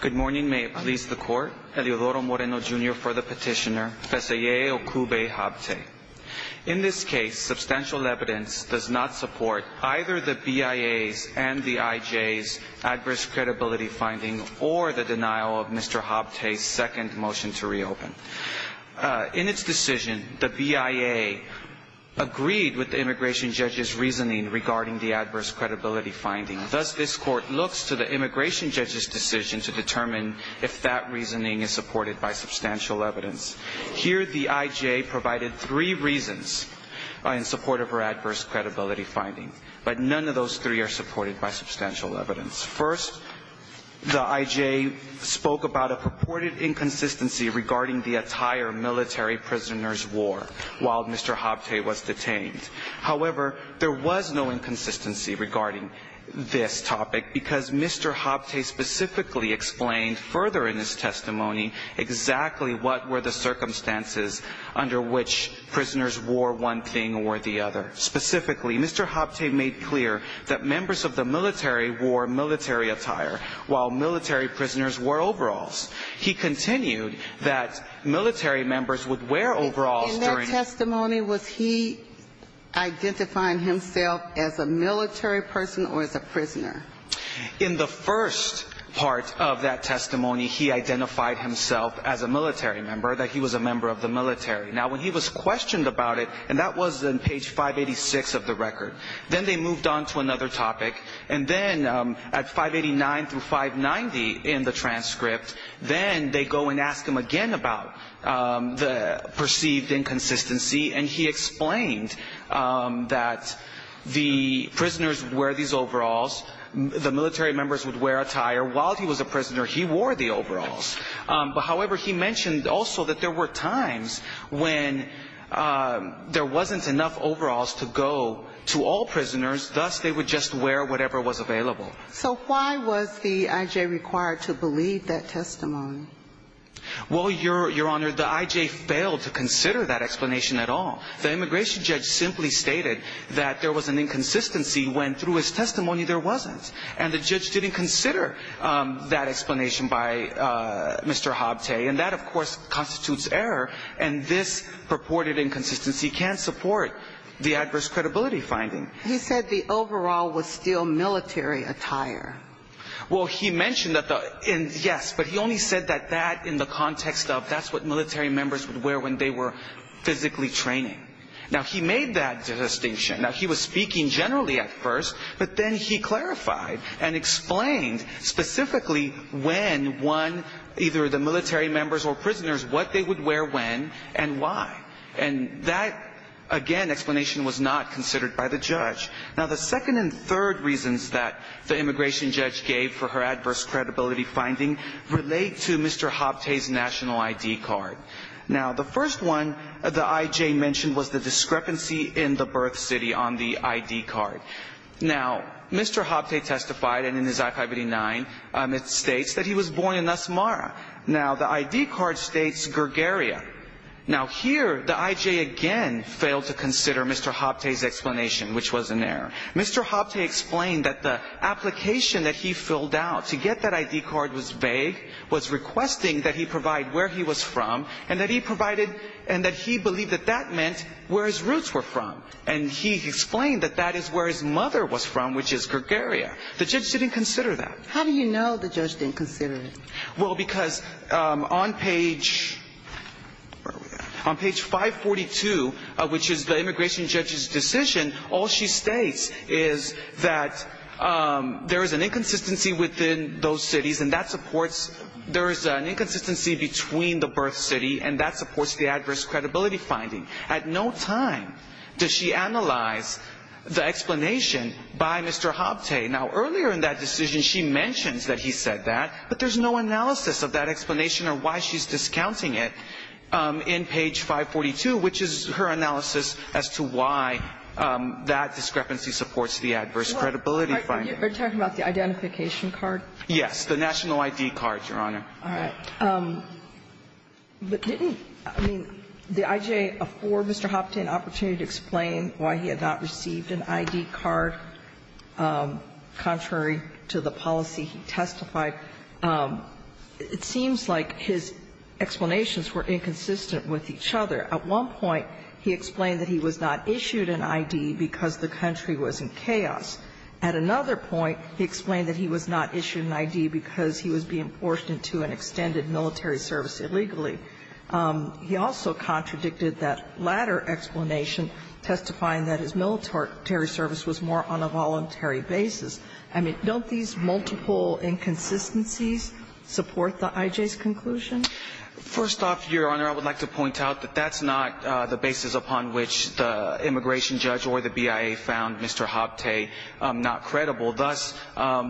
Good morning. May it please the Court. Eleodoro Moreno, Jr. for the petitioner. Fesehaye Okube Habte. In this case, substantial evidence does not support either the BIA's and the IJ's adverse credibility finding or the denial of Mr. Habte's second motion to reopen. In its decision, the BIA agreed with the immigration judge's reasoning regarding the adverse credibility finding. Thus, this Court looks to the immigration judge's decision to determine if that reasoning is supported by substantial evidence. Here, the IJ provided three reasons in support of her adverse credibility finding, but none of those three are supported by substantial evidence. First, the IJ spoke about a purported inconsistency regarding the attire military prisoners wore while Mr. Habte was detained. However, there was no inconsistency regarding this topic because Mr. Habte specifically explained further in his testimony exactly what were the circumstances under which prisoners wore one thing or the other. Specifically, Mr. Habte made clear that members of the military wore military attire while military prisoners wore overalls. He continued that military members would wear overalls during the ---- Excuse me, was he identifying himself as a military person or as a prisoner? In the first part of that testimony, he identified himself as a military member, that he was a member of the military. Now, when he was questioned about it, and that was on page 586 of the record, then they moved on to another topic, and then at 589 through 590 in the transcript, then they go and ask him again about the perceived inconsistency, and he explained that the prisoners would wear these overalls, the military members would wear attire, while he was a prisoner, he wore the overalls. However, he mentioned also that there were times when there wasn't enough overalls to go to all prisoners, thus they would just wear whatever was available. So why was the I.J. required to believe that testimony? Well, Your Honor, the I.J. failed to consider that explanation at all. The immigration judge simply stated that there was an inconsistency when through his testimony there wasn't, and the judge didn't consider that explanation by Mr. Habte, and that, of course, constitutes error, and this purported inconsistency can't support the adverse credibility finding. He said the overall was still military attire. Well, he mentioned that, yes, but he only said that in the context of that's what military members would wear when they were physically training. Now, he made that distinction. Now, he was speaking generally at first, but then he clarified and explained specifically when one, either the military members or prisoners, what they would wear when and why, and that, again, explanation was not considered by the judge. Now, the second and third reasons that the immigration judge gave for her adverse credibility finding relate to Mr. Habte's national I.D. card. Now, the first one the I.J. mentioned was the discrepancy in the birth city on the I.D. card. Now, Mr. Habte testified, and in his I-589 it states that he was born in Nasmara. Now, the I.D. card states Gregaria. Now, here the I.J. again failed to consider Mr. Habte's explanation, which was in error. Mr. Habte explained that the application that he filled out to get that I.D. card was vague, was requesting that he provide where he was from, and that he provided and that he believed that that meant where his roots were from. And he explained that that is where his mother was from, which is Gregaria. The judge didn't consider that. How do you know the judge didn't consider it? Well, because on page 542, which is the immigration judge's decision, all she states is that there is an inconsistency within those cities, and that supports there is an inconsistency between the birth city, and that supports the adverse credibility finding. At no time does she analyze the explanation by Mr. Habte. Now, earlier in that decision, she mentions that he said that, but there's no analysis of that explanation or why she's discounting it in page 542, which is her analysis as to why that discrepancy supports the adverse credibility finding. You're talking about the identification card? Yes, the national I.D. card, Your Honor. All right. But didn't, I mean, did I.J. afford Mr. Habte an opportunity to explain why he had not received an I.D. card contrary to the policy he testified? It seems like his explanations were inconsistent with each other. At one point, he explained that he was not issued an I.D. because the country was in chaos. At another point, he explained that he was not issued an I.D. because he was being forced into an extended military service illegally. He also contradicted that latter explanation, testifying that his military service was more on a voluntary basis. I mean, don't these multiple inconsistencies support the I.J.'s conclusion? First off, Your Honor, I would like to point out that that's not the basis upon which the immigration judge or the BIA found Mr. Habte not credible. Thus,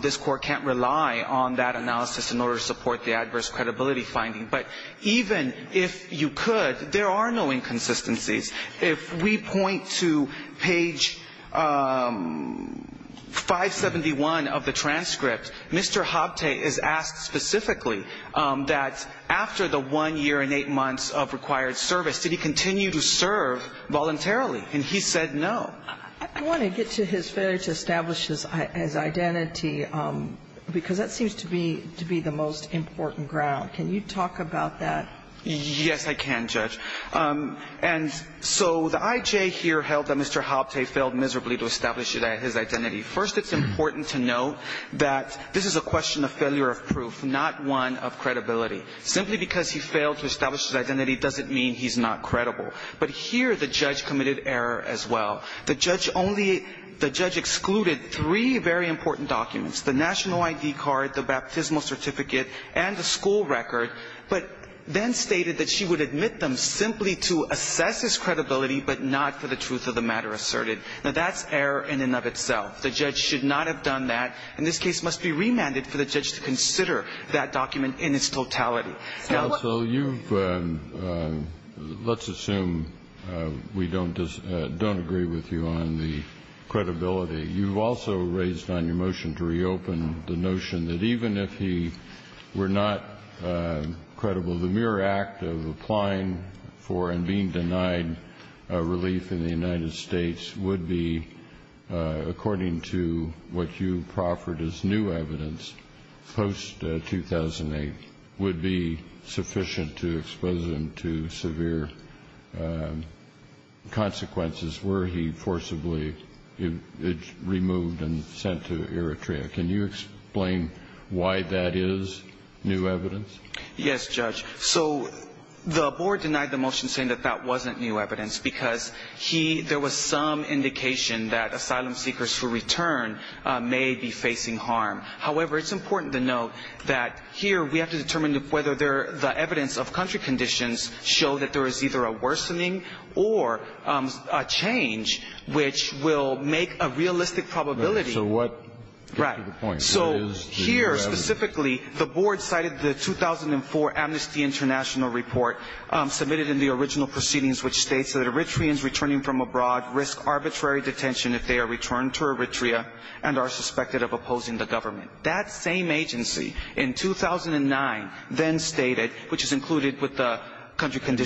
this Court can't rely on that analysis in order to support the adverse credibility finding. But even if you could, there are no inconsistencies. If we point to page 571 of the transcript, Mr. Habte is asked specifically that after the one year and eight months of required service, did he continue to serve voluntarily? And he said no. I want to get to his failure to establish his identity because that seems to be the most important ground. Can you talk about that? Yes, I can, Judge. And so the I.J. here held that Mr. Habte failed miserably to establish his identity. First, it's important to note that this is a question of failure of proof, not one of credibility. Simply because he failed to establish his identity doesn't mean he's not credible. But here the judge committed error as well. The judge only – the judge excluded three very important documents, the national ID card, the baptismal certificate, and the school record, but then stated that she would admit them simply to assess his credibility but not for the truth of the matter asserted. Now, that's error in and of itself. The judge should not have done that. And this case must be remanded for the judge to consider that document in its totality. Counsel, you've – let's assume we don't agree with you on the credibility. You've also raised on your motion to reopen the notion that even if he were not credible, the mere act of applying for and being denied relief in the United States would be, according to what you proffered as new evidence post-2008, would be sent to Eritrea. Can you explain why that is new evidence? Yes, Judge. So the board denied the motion saying that that wasn't new evidence because he – there was some indication that asylum seekers who return may be facing harm. However, it's important to note that here we have to determine whether the evidence of country conditions show that there is either a worsening or a change which will make a realistic probability. So what – get to the point. So here, specifically, the board cited the 2004 Amnesty International report submitted in the original proceedings, which states that Eritreans returning from abroad risk arbitrary detention if they are returned to Eritrea and are suspected of opposing the government. That same agency in 2009 then stated, which is included with the country are at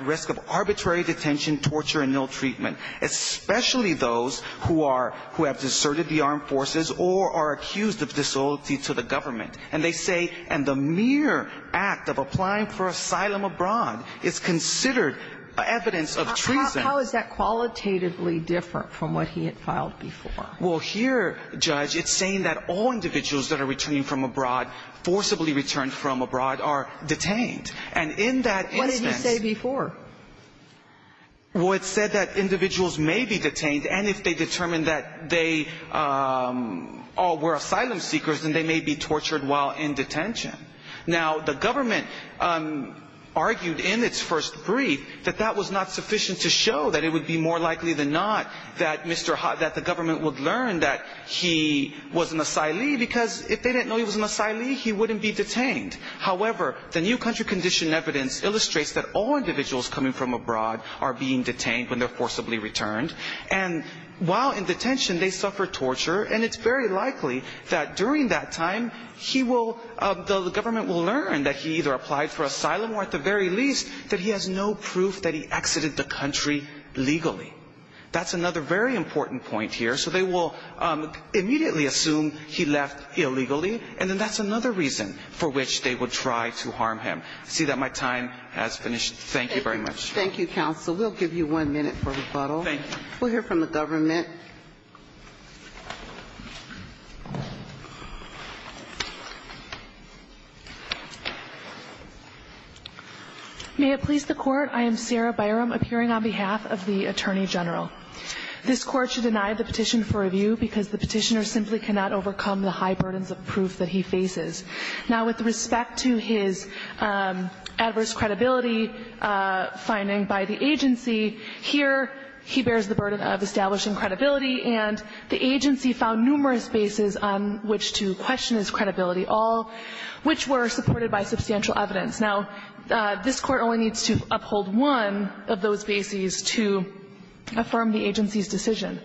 risk of arbitrary detention, torture, and ill-treatment, especially those who are – who have deserted the armed forces or are accused of disloyalty to the government. And they say, and the mere act of applying for asylum abroad is considered evidence of treason. How is that qualitatively different from what he had filed before? Well, here, Judge, it's saying that all individuals that are returning from abroad, forcibly returned from abroad, are detained. And in that instance – What did you say before? Well, it said that individuals may be detained, and if they determine that they all were asylum seekers, then they may be tortured while in detention. Now, the government argued in its first brief that that was not sufficient to show that it would be more likely than not that Mr. – that the government would learn that he was an asylee, because if they didn't know he was an asylee, he wouldn't be detained. However, the new country condition evidence illustrates that all individuals coming from abroad are being detained when they're forcibly returned. And while in detention, they suffer torture, and it's very likely that during that time, he will – the government will learn that he either applied for asylum or, at the very least, that he has no proof that he exited the country legally. That's another very important point here. So they will immediately assume he left illegally, and then that's another reason for which they will try to harm him. I see that my time has finished. Thank you very much. Thank you, counsel. We'll give you one minute for rebuttal. Thank you. We'll hear from the government. May it please the Court. I am Sarah Byram, appearing on behalf of the Attorney General. This Court should deny the petition for review because the petitioner simply cannot overcome the high burdens of proof that he faces. Now, with respect to his adverse credibility finding by the agency, here he bears the burden of establishing credibility, and the agency found numerous bases on which to question his credibility, all which were supported by substantial evidence. Now, this Court only needs to uphold one of those bases to affirm the agency's decision.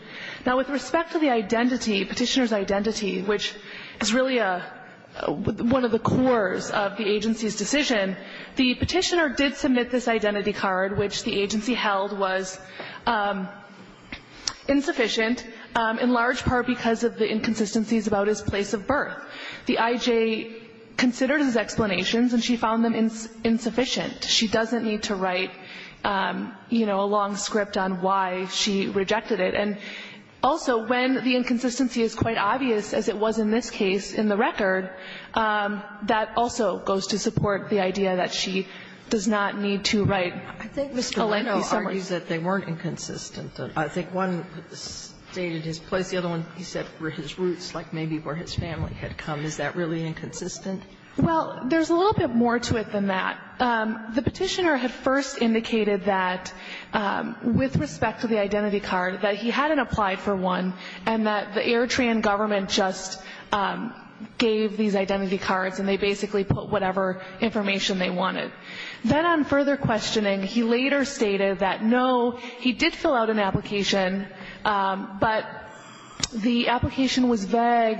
Now, with respect to the identity, petitioner's identity, which is really one of the cores of the agency's decision, the petitioner did submit this identity card, which the agency held was insufficient, in large part because of the inconsistencies about his place of birth. The I.J. considered his explanations, and she found them insufficient. She doesn't need to write, you know, a long script on why she rejected it. And also, when the inconsistency is quite obvious, as it was in this case in the record, that also goes to support the idea that she does not need to write a lengthy Sotomayor, I think Mr. Leno argues that they weren't inconsistent. I think one stated his place. The other one, he said, were his roots, like maybe where his family had come. Is that really inconsistent? Well, there's a little bit more to it than that. The petitioner had first indicated that, with respect to the identity card, that he hadn't applied for one, and that the Eritrean government just gave these identity cards, and they basically put whatever information they wanted. Then on further questioning, he later stated that, no, he did fill out an application, but the application was vague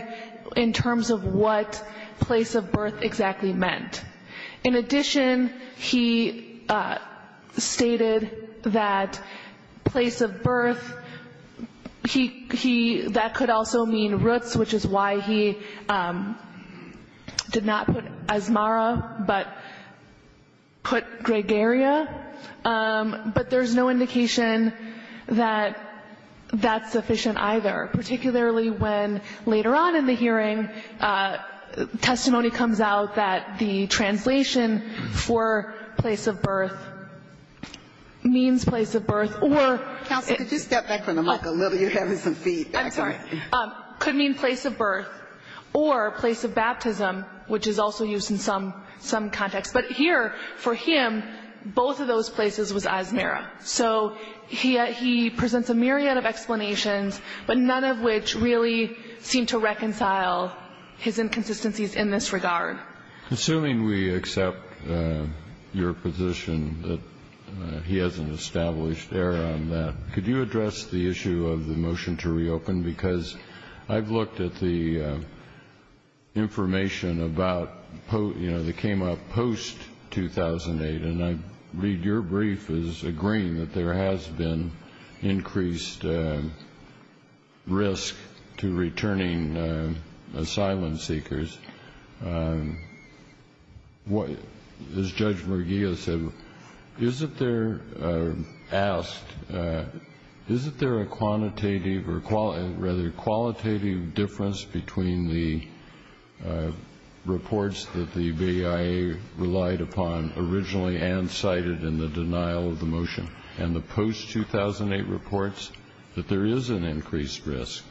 in terms of what place of birth exactly meant. In addition, he stated that place of birth, he, that could also mean roots, which is why he did not put Asmara, but put Gregaria. But there's no indication that that's sufficient either, particularly when later on in the translation for place of birth means place of birth, or Counsel, could you step back from the mic a little? You're having some feedback. I'm sorry. Could mean place of birth, or place of baptism, which is also used in some context. But here, for him, both of those places was Asmara. So he presents a myriad of explanations, but none of which really seem to reconcile his inconsistencies in this regard. Assuming we accept your position that he has an established error on that, could you address the issue of the motion to reopen? Because I've looked at the information about, you know, that came up post-2008, and I read your brief as agreeing that there has been increased risk to returning asylum seekers. As Judge Murguia said, is it there, asked, is it there a quantitative, or rather, qualitative difference between the reports that the BIA relied upon originally and cited in the denial of the motion, and the post-2008 reports? That there is an increased risk.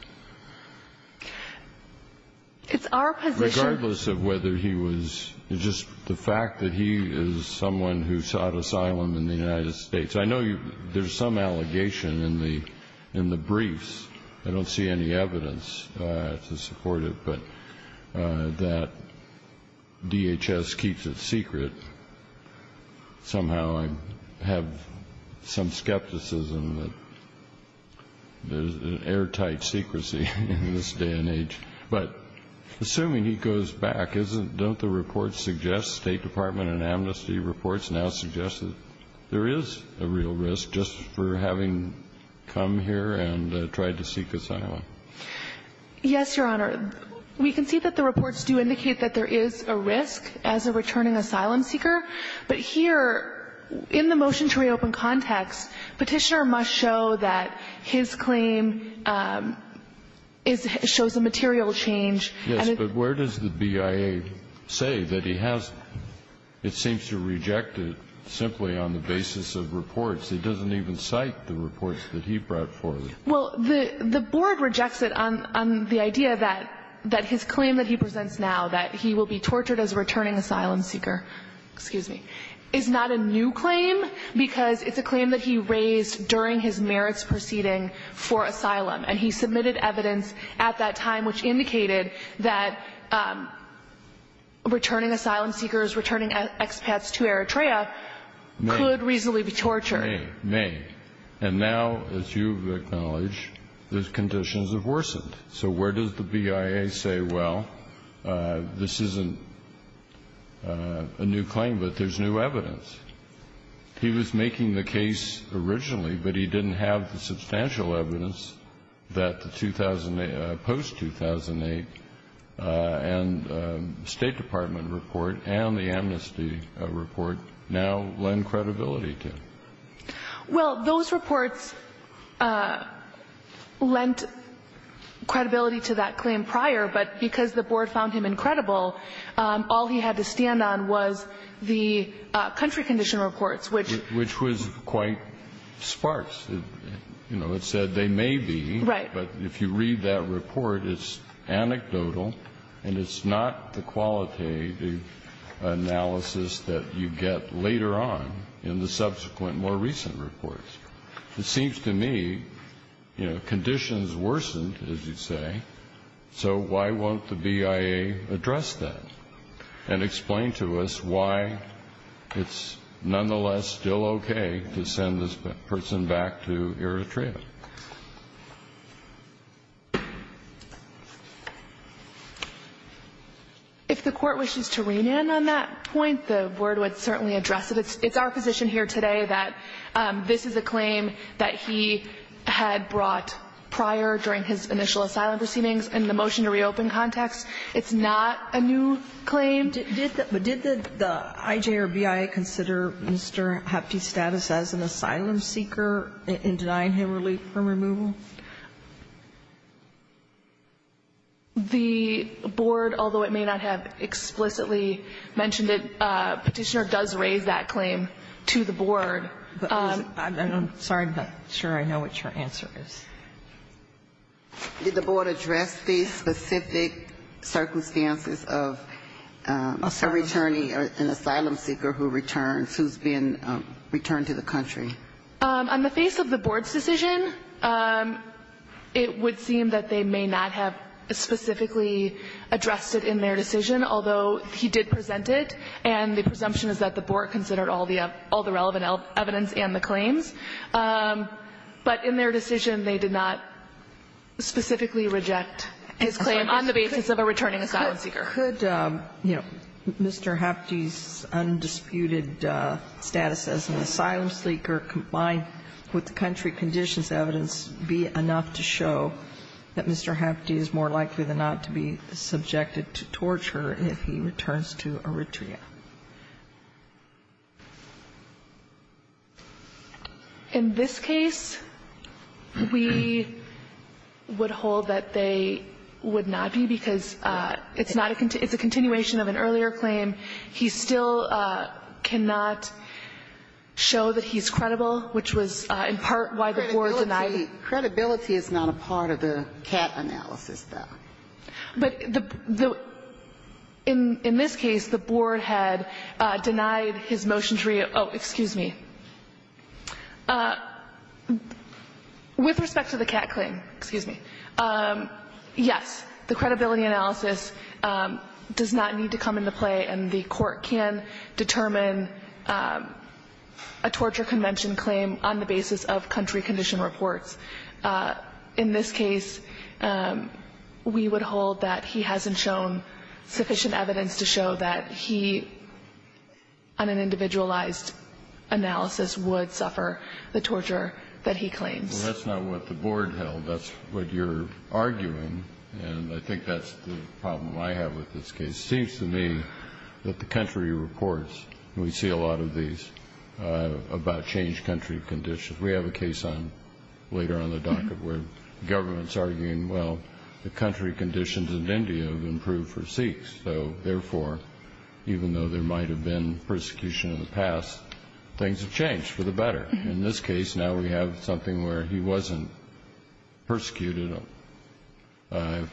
It's our position Regardless of whether he was, just the fact that he is someone who sought asylum in the United States. I know there's some allegation in the briefs, I don't see any evidence to support it, but that DHS keeps it secret. Somehow I have some skepticism that, you know, there's an airtight secrecy in this day and age. But assuming he goes back, isn't, don't the reports suggest, State Department and Amnesty reports now suggest that there is a real risk just for having come here and tried to seek asylum? Yes, Your Honor. We can see that the reports do indicate that there is a risk as a returning asylum seeker, but here, in the motion to reopen context, Petitioner must show that his claim is, shows a material change. Yes, but where does the BIA say that he has, it seems to reject it simply on the basis of reports? It doesn't even cite the reports that he brought forward. Well, the Board rejects it on the idea that his claim that he presents now, that he will be tortured as a returning asylum seeker, excuse me, is not a new claim, because it's a claim that he raised during his merits proceeding for asylum. And he submitted evidence at that time which indicated that returning asylum seekers, returning expats to Eritrea could reasonably be tortured. May. And now, as you've acknowledged, the conditions have worsened. So where does the BIA say, well, this isn't a new claim, but there's new evidence? He was making the case originally, but he didn't have the substantial evidence that the 2008, post-2008 State Department report and the amnesty report now lend credibility to. Well, those reports lent credibility to that claim prior, but because the Board found him incredible, all he had to stand on was the country condition reports, which was quite sparse. You know, it said they may be, but if you read that report, it's anecdotal and it's not the qualitative analysis that you get later on in the subsequent more recent reports. It seems to me, you know, conditions worsened, as you say. So why won't the BIA address that and explain to us why it's nonetheless still okay to send this person back to Eritrea? If the Court wishes to rein in on that point, the Board would certainly address it. It's our position here today that this is a claim that he had brought prior during his initial asylum proceedings. In the motion to reopen context, it's not a new claim. But did the IJ or BIA consider Mr. Hapte's status as an asylum seeker in denying him relief from removal? The Board, although it may not have explicitly mentioned it, Petitioner does raise that claim to the Board. I'm sorry, but I'm sure I know what your answer is. Did the Board address the specific circumstances of a returnee, an asylum seeker who returns, who's been returned to the country? On the face of the Board's decision, it would seem that they may not have specifically addressed it in their decision, although he did present it, and the presumption is that the Board considered all the relevant evidence and the claims. But in their decision, they may not specifically reject his claim on the basis of a returning asylum seeker. Could, you know, Mr. Hapte's undisputed status as an asylum seeker combined with the country conditions evidence be enough to show that Mr. Hapte is more likely than not to be subjected to torture if he returns to Eritrea? In this case, we would hold that they would not be, because it's not a continuation of an earlier claim. He still cannot show that he's credible, which was in part why the Board denied him. Credibility is not a part of the cap analysis, though. But the – in this case, the Board had denied his motion to read – oh, excuse me. With respect to the cat claim, excuse me, yes, the credibility analysis does not need to come into play, and the Court can determine a torture convention claim on the basis of country condition reports. In this case, we would hold that he hasn't shown sufficient evidence to show that he, on an individualized analysis, would suffer the torture that he claims. Well, that's not what the Board held. That's what you're arguing, and I think that's the problem I have with this case. It seems to me that the country reports, and we see a lot of these, about changed country conditions. We have a case later on the docket where the government's arguing, well, the country conditions in India have improved for Sikhs, so therefore, even though there might have been persecution in the past, things have changed for the better. In this case, now we have something where he wasn't persecuted.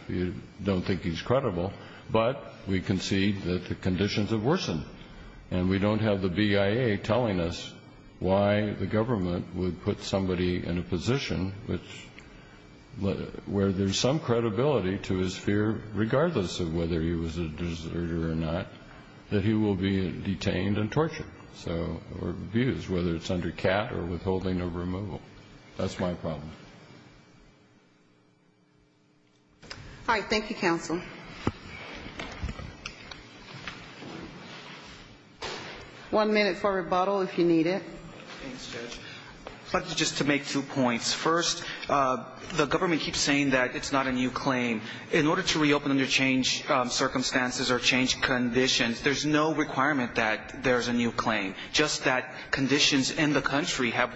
You don't think he's credible, but we concede that the conditions have worsened, and we don't have the BIA telling us why the government would put somebody in a position where there's some credibility to his fear, regardless of whether he was a deserter or not, that he will be detained and tortured or abused, whether it's under CAT or withholding or removal. That's my problem. All right, thank you, counsel. One minute for rebuttal, if you need it. Thanks, Judge. I'd like just to make two points. First, the government keeps saying that it's not a new claim. In order to reopen under changed circumstances or changed conditions, there's no requirement that there's a new claim, just that conditions in the country have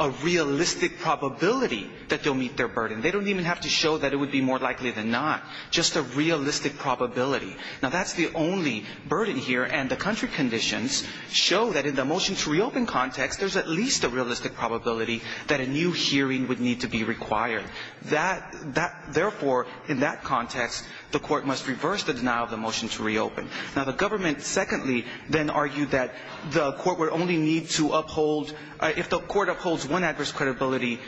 a realistic probability that they'll meet their burden. They don't even have to show that it would be more likely than not, just a realistic probability. Now, that's the only burden here, and the country conditions show that in the motion to reopen context, there's at least a realistic probability that a new hearing would need to be required. Therefore, in that context, the court must reverse the denial of the motion to reopen. Now, the government, secondly, then argued that the court would only need to uphold – if the court upholds one adverse credibility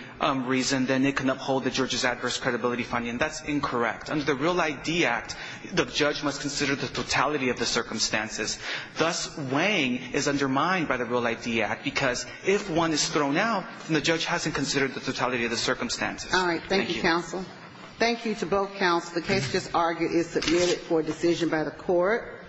reason, then it can uphold the judge's adverse credibility finding. That's incorrect. Under the Real ID Act, the judge must consider the totality of the circumstances. Thus, weighing is undermined by the Real ID Act, because if one is thrown out, the judge hasn't considered the totality of the circumstances. Thank you. All right. Thank you, counsel. The case just argued is submitted for decision by the court.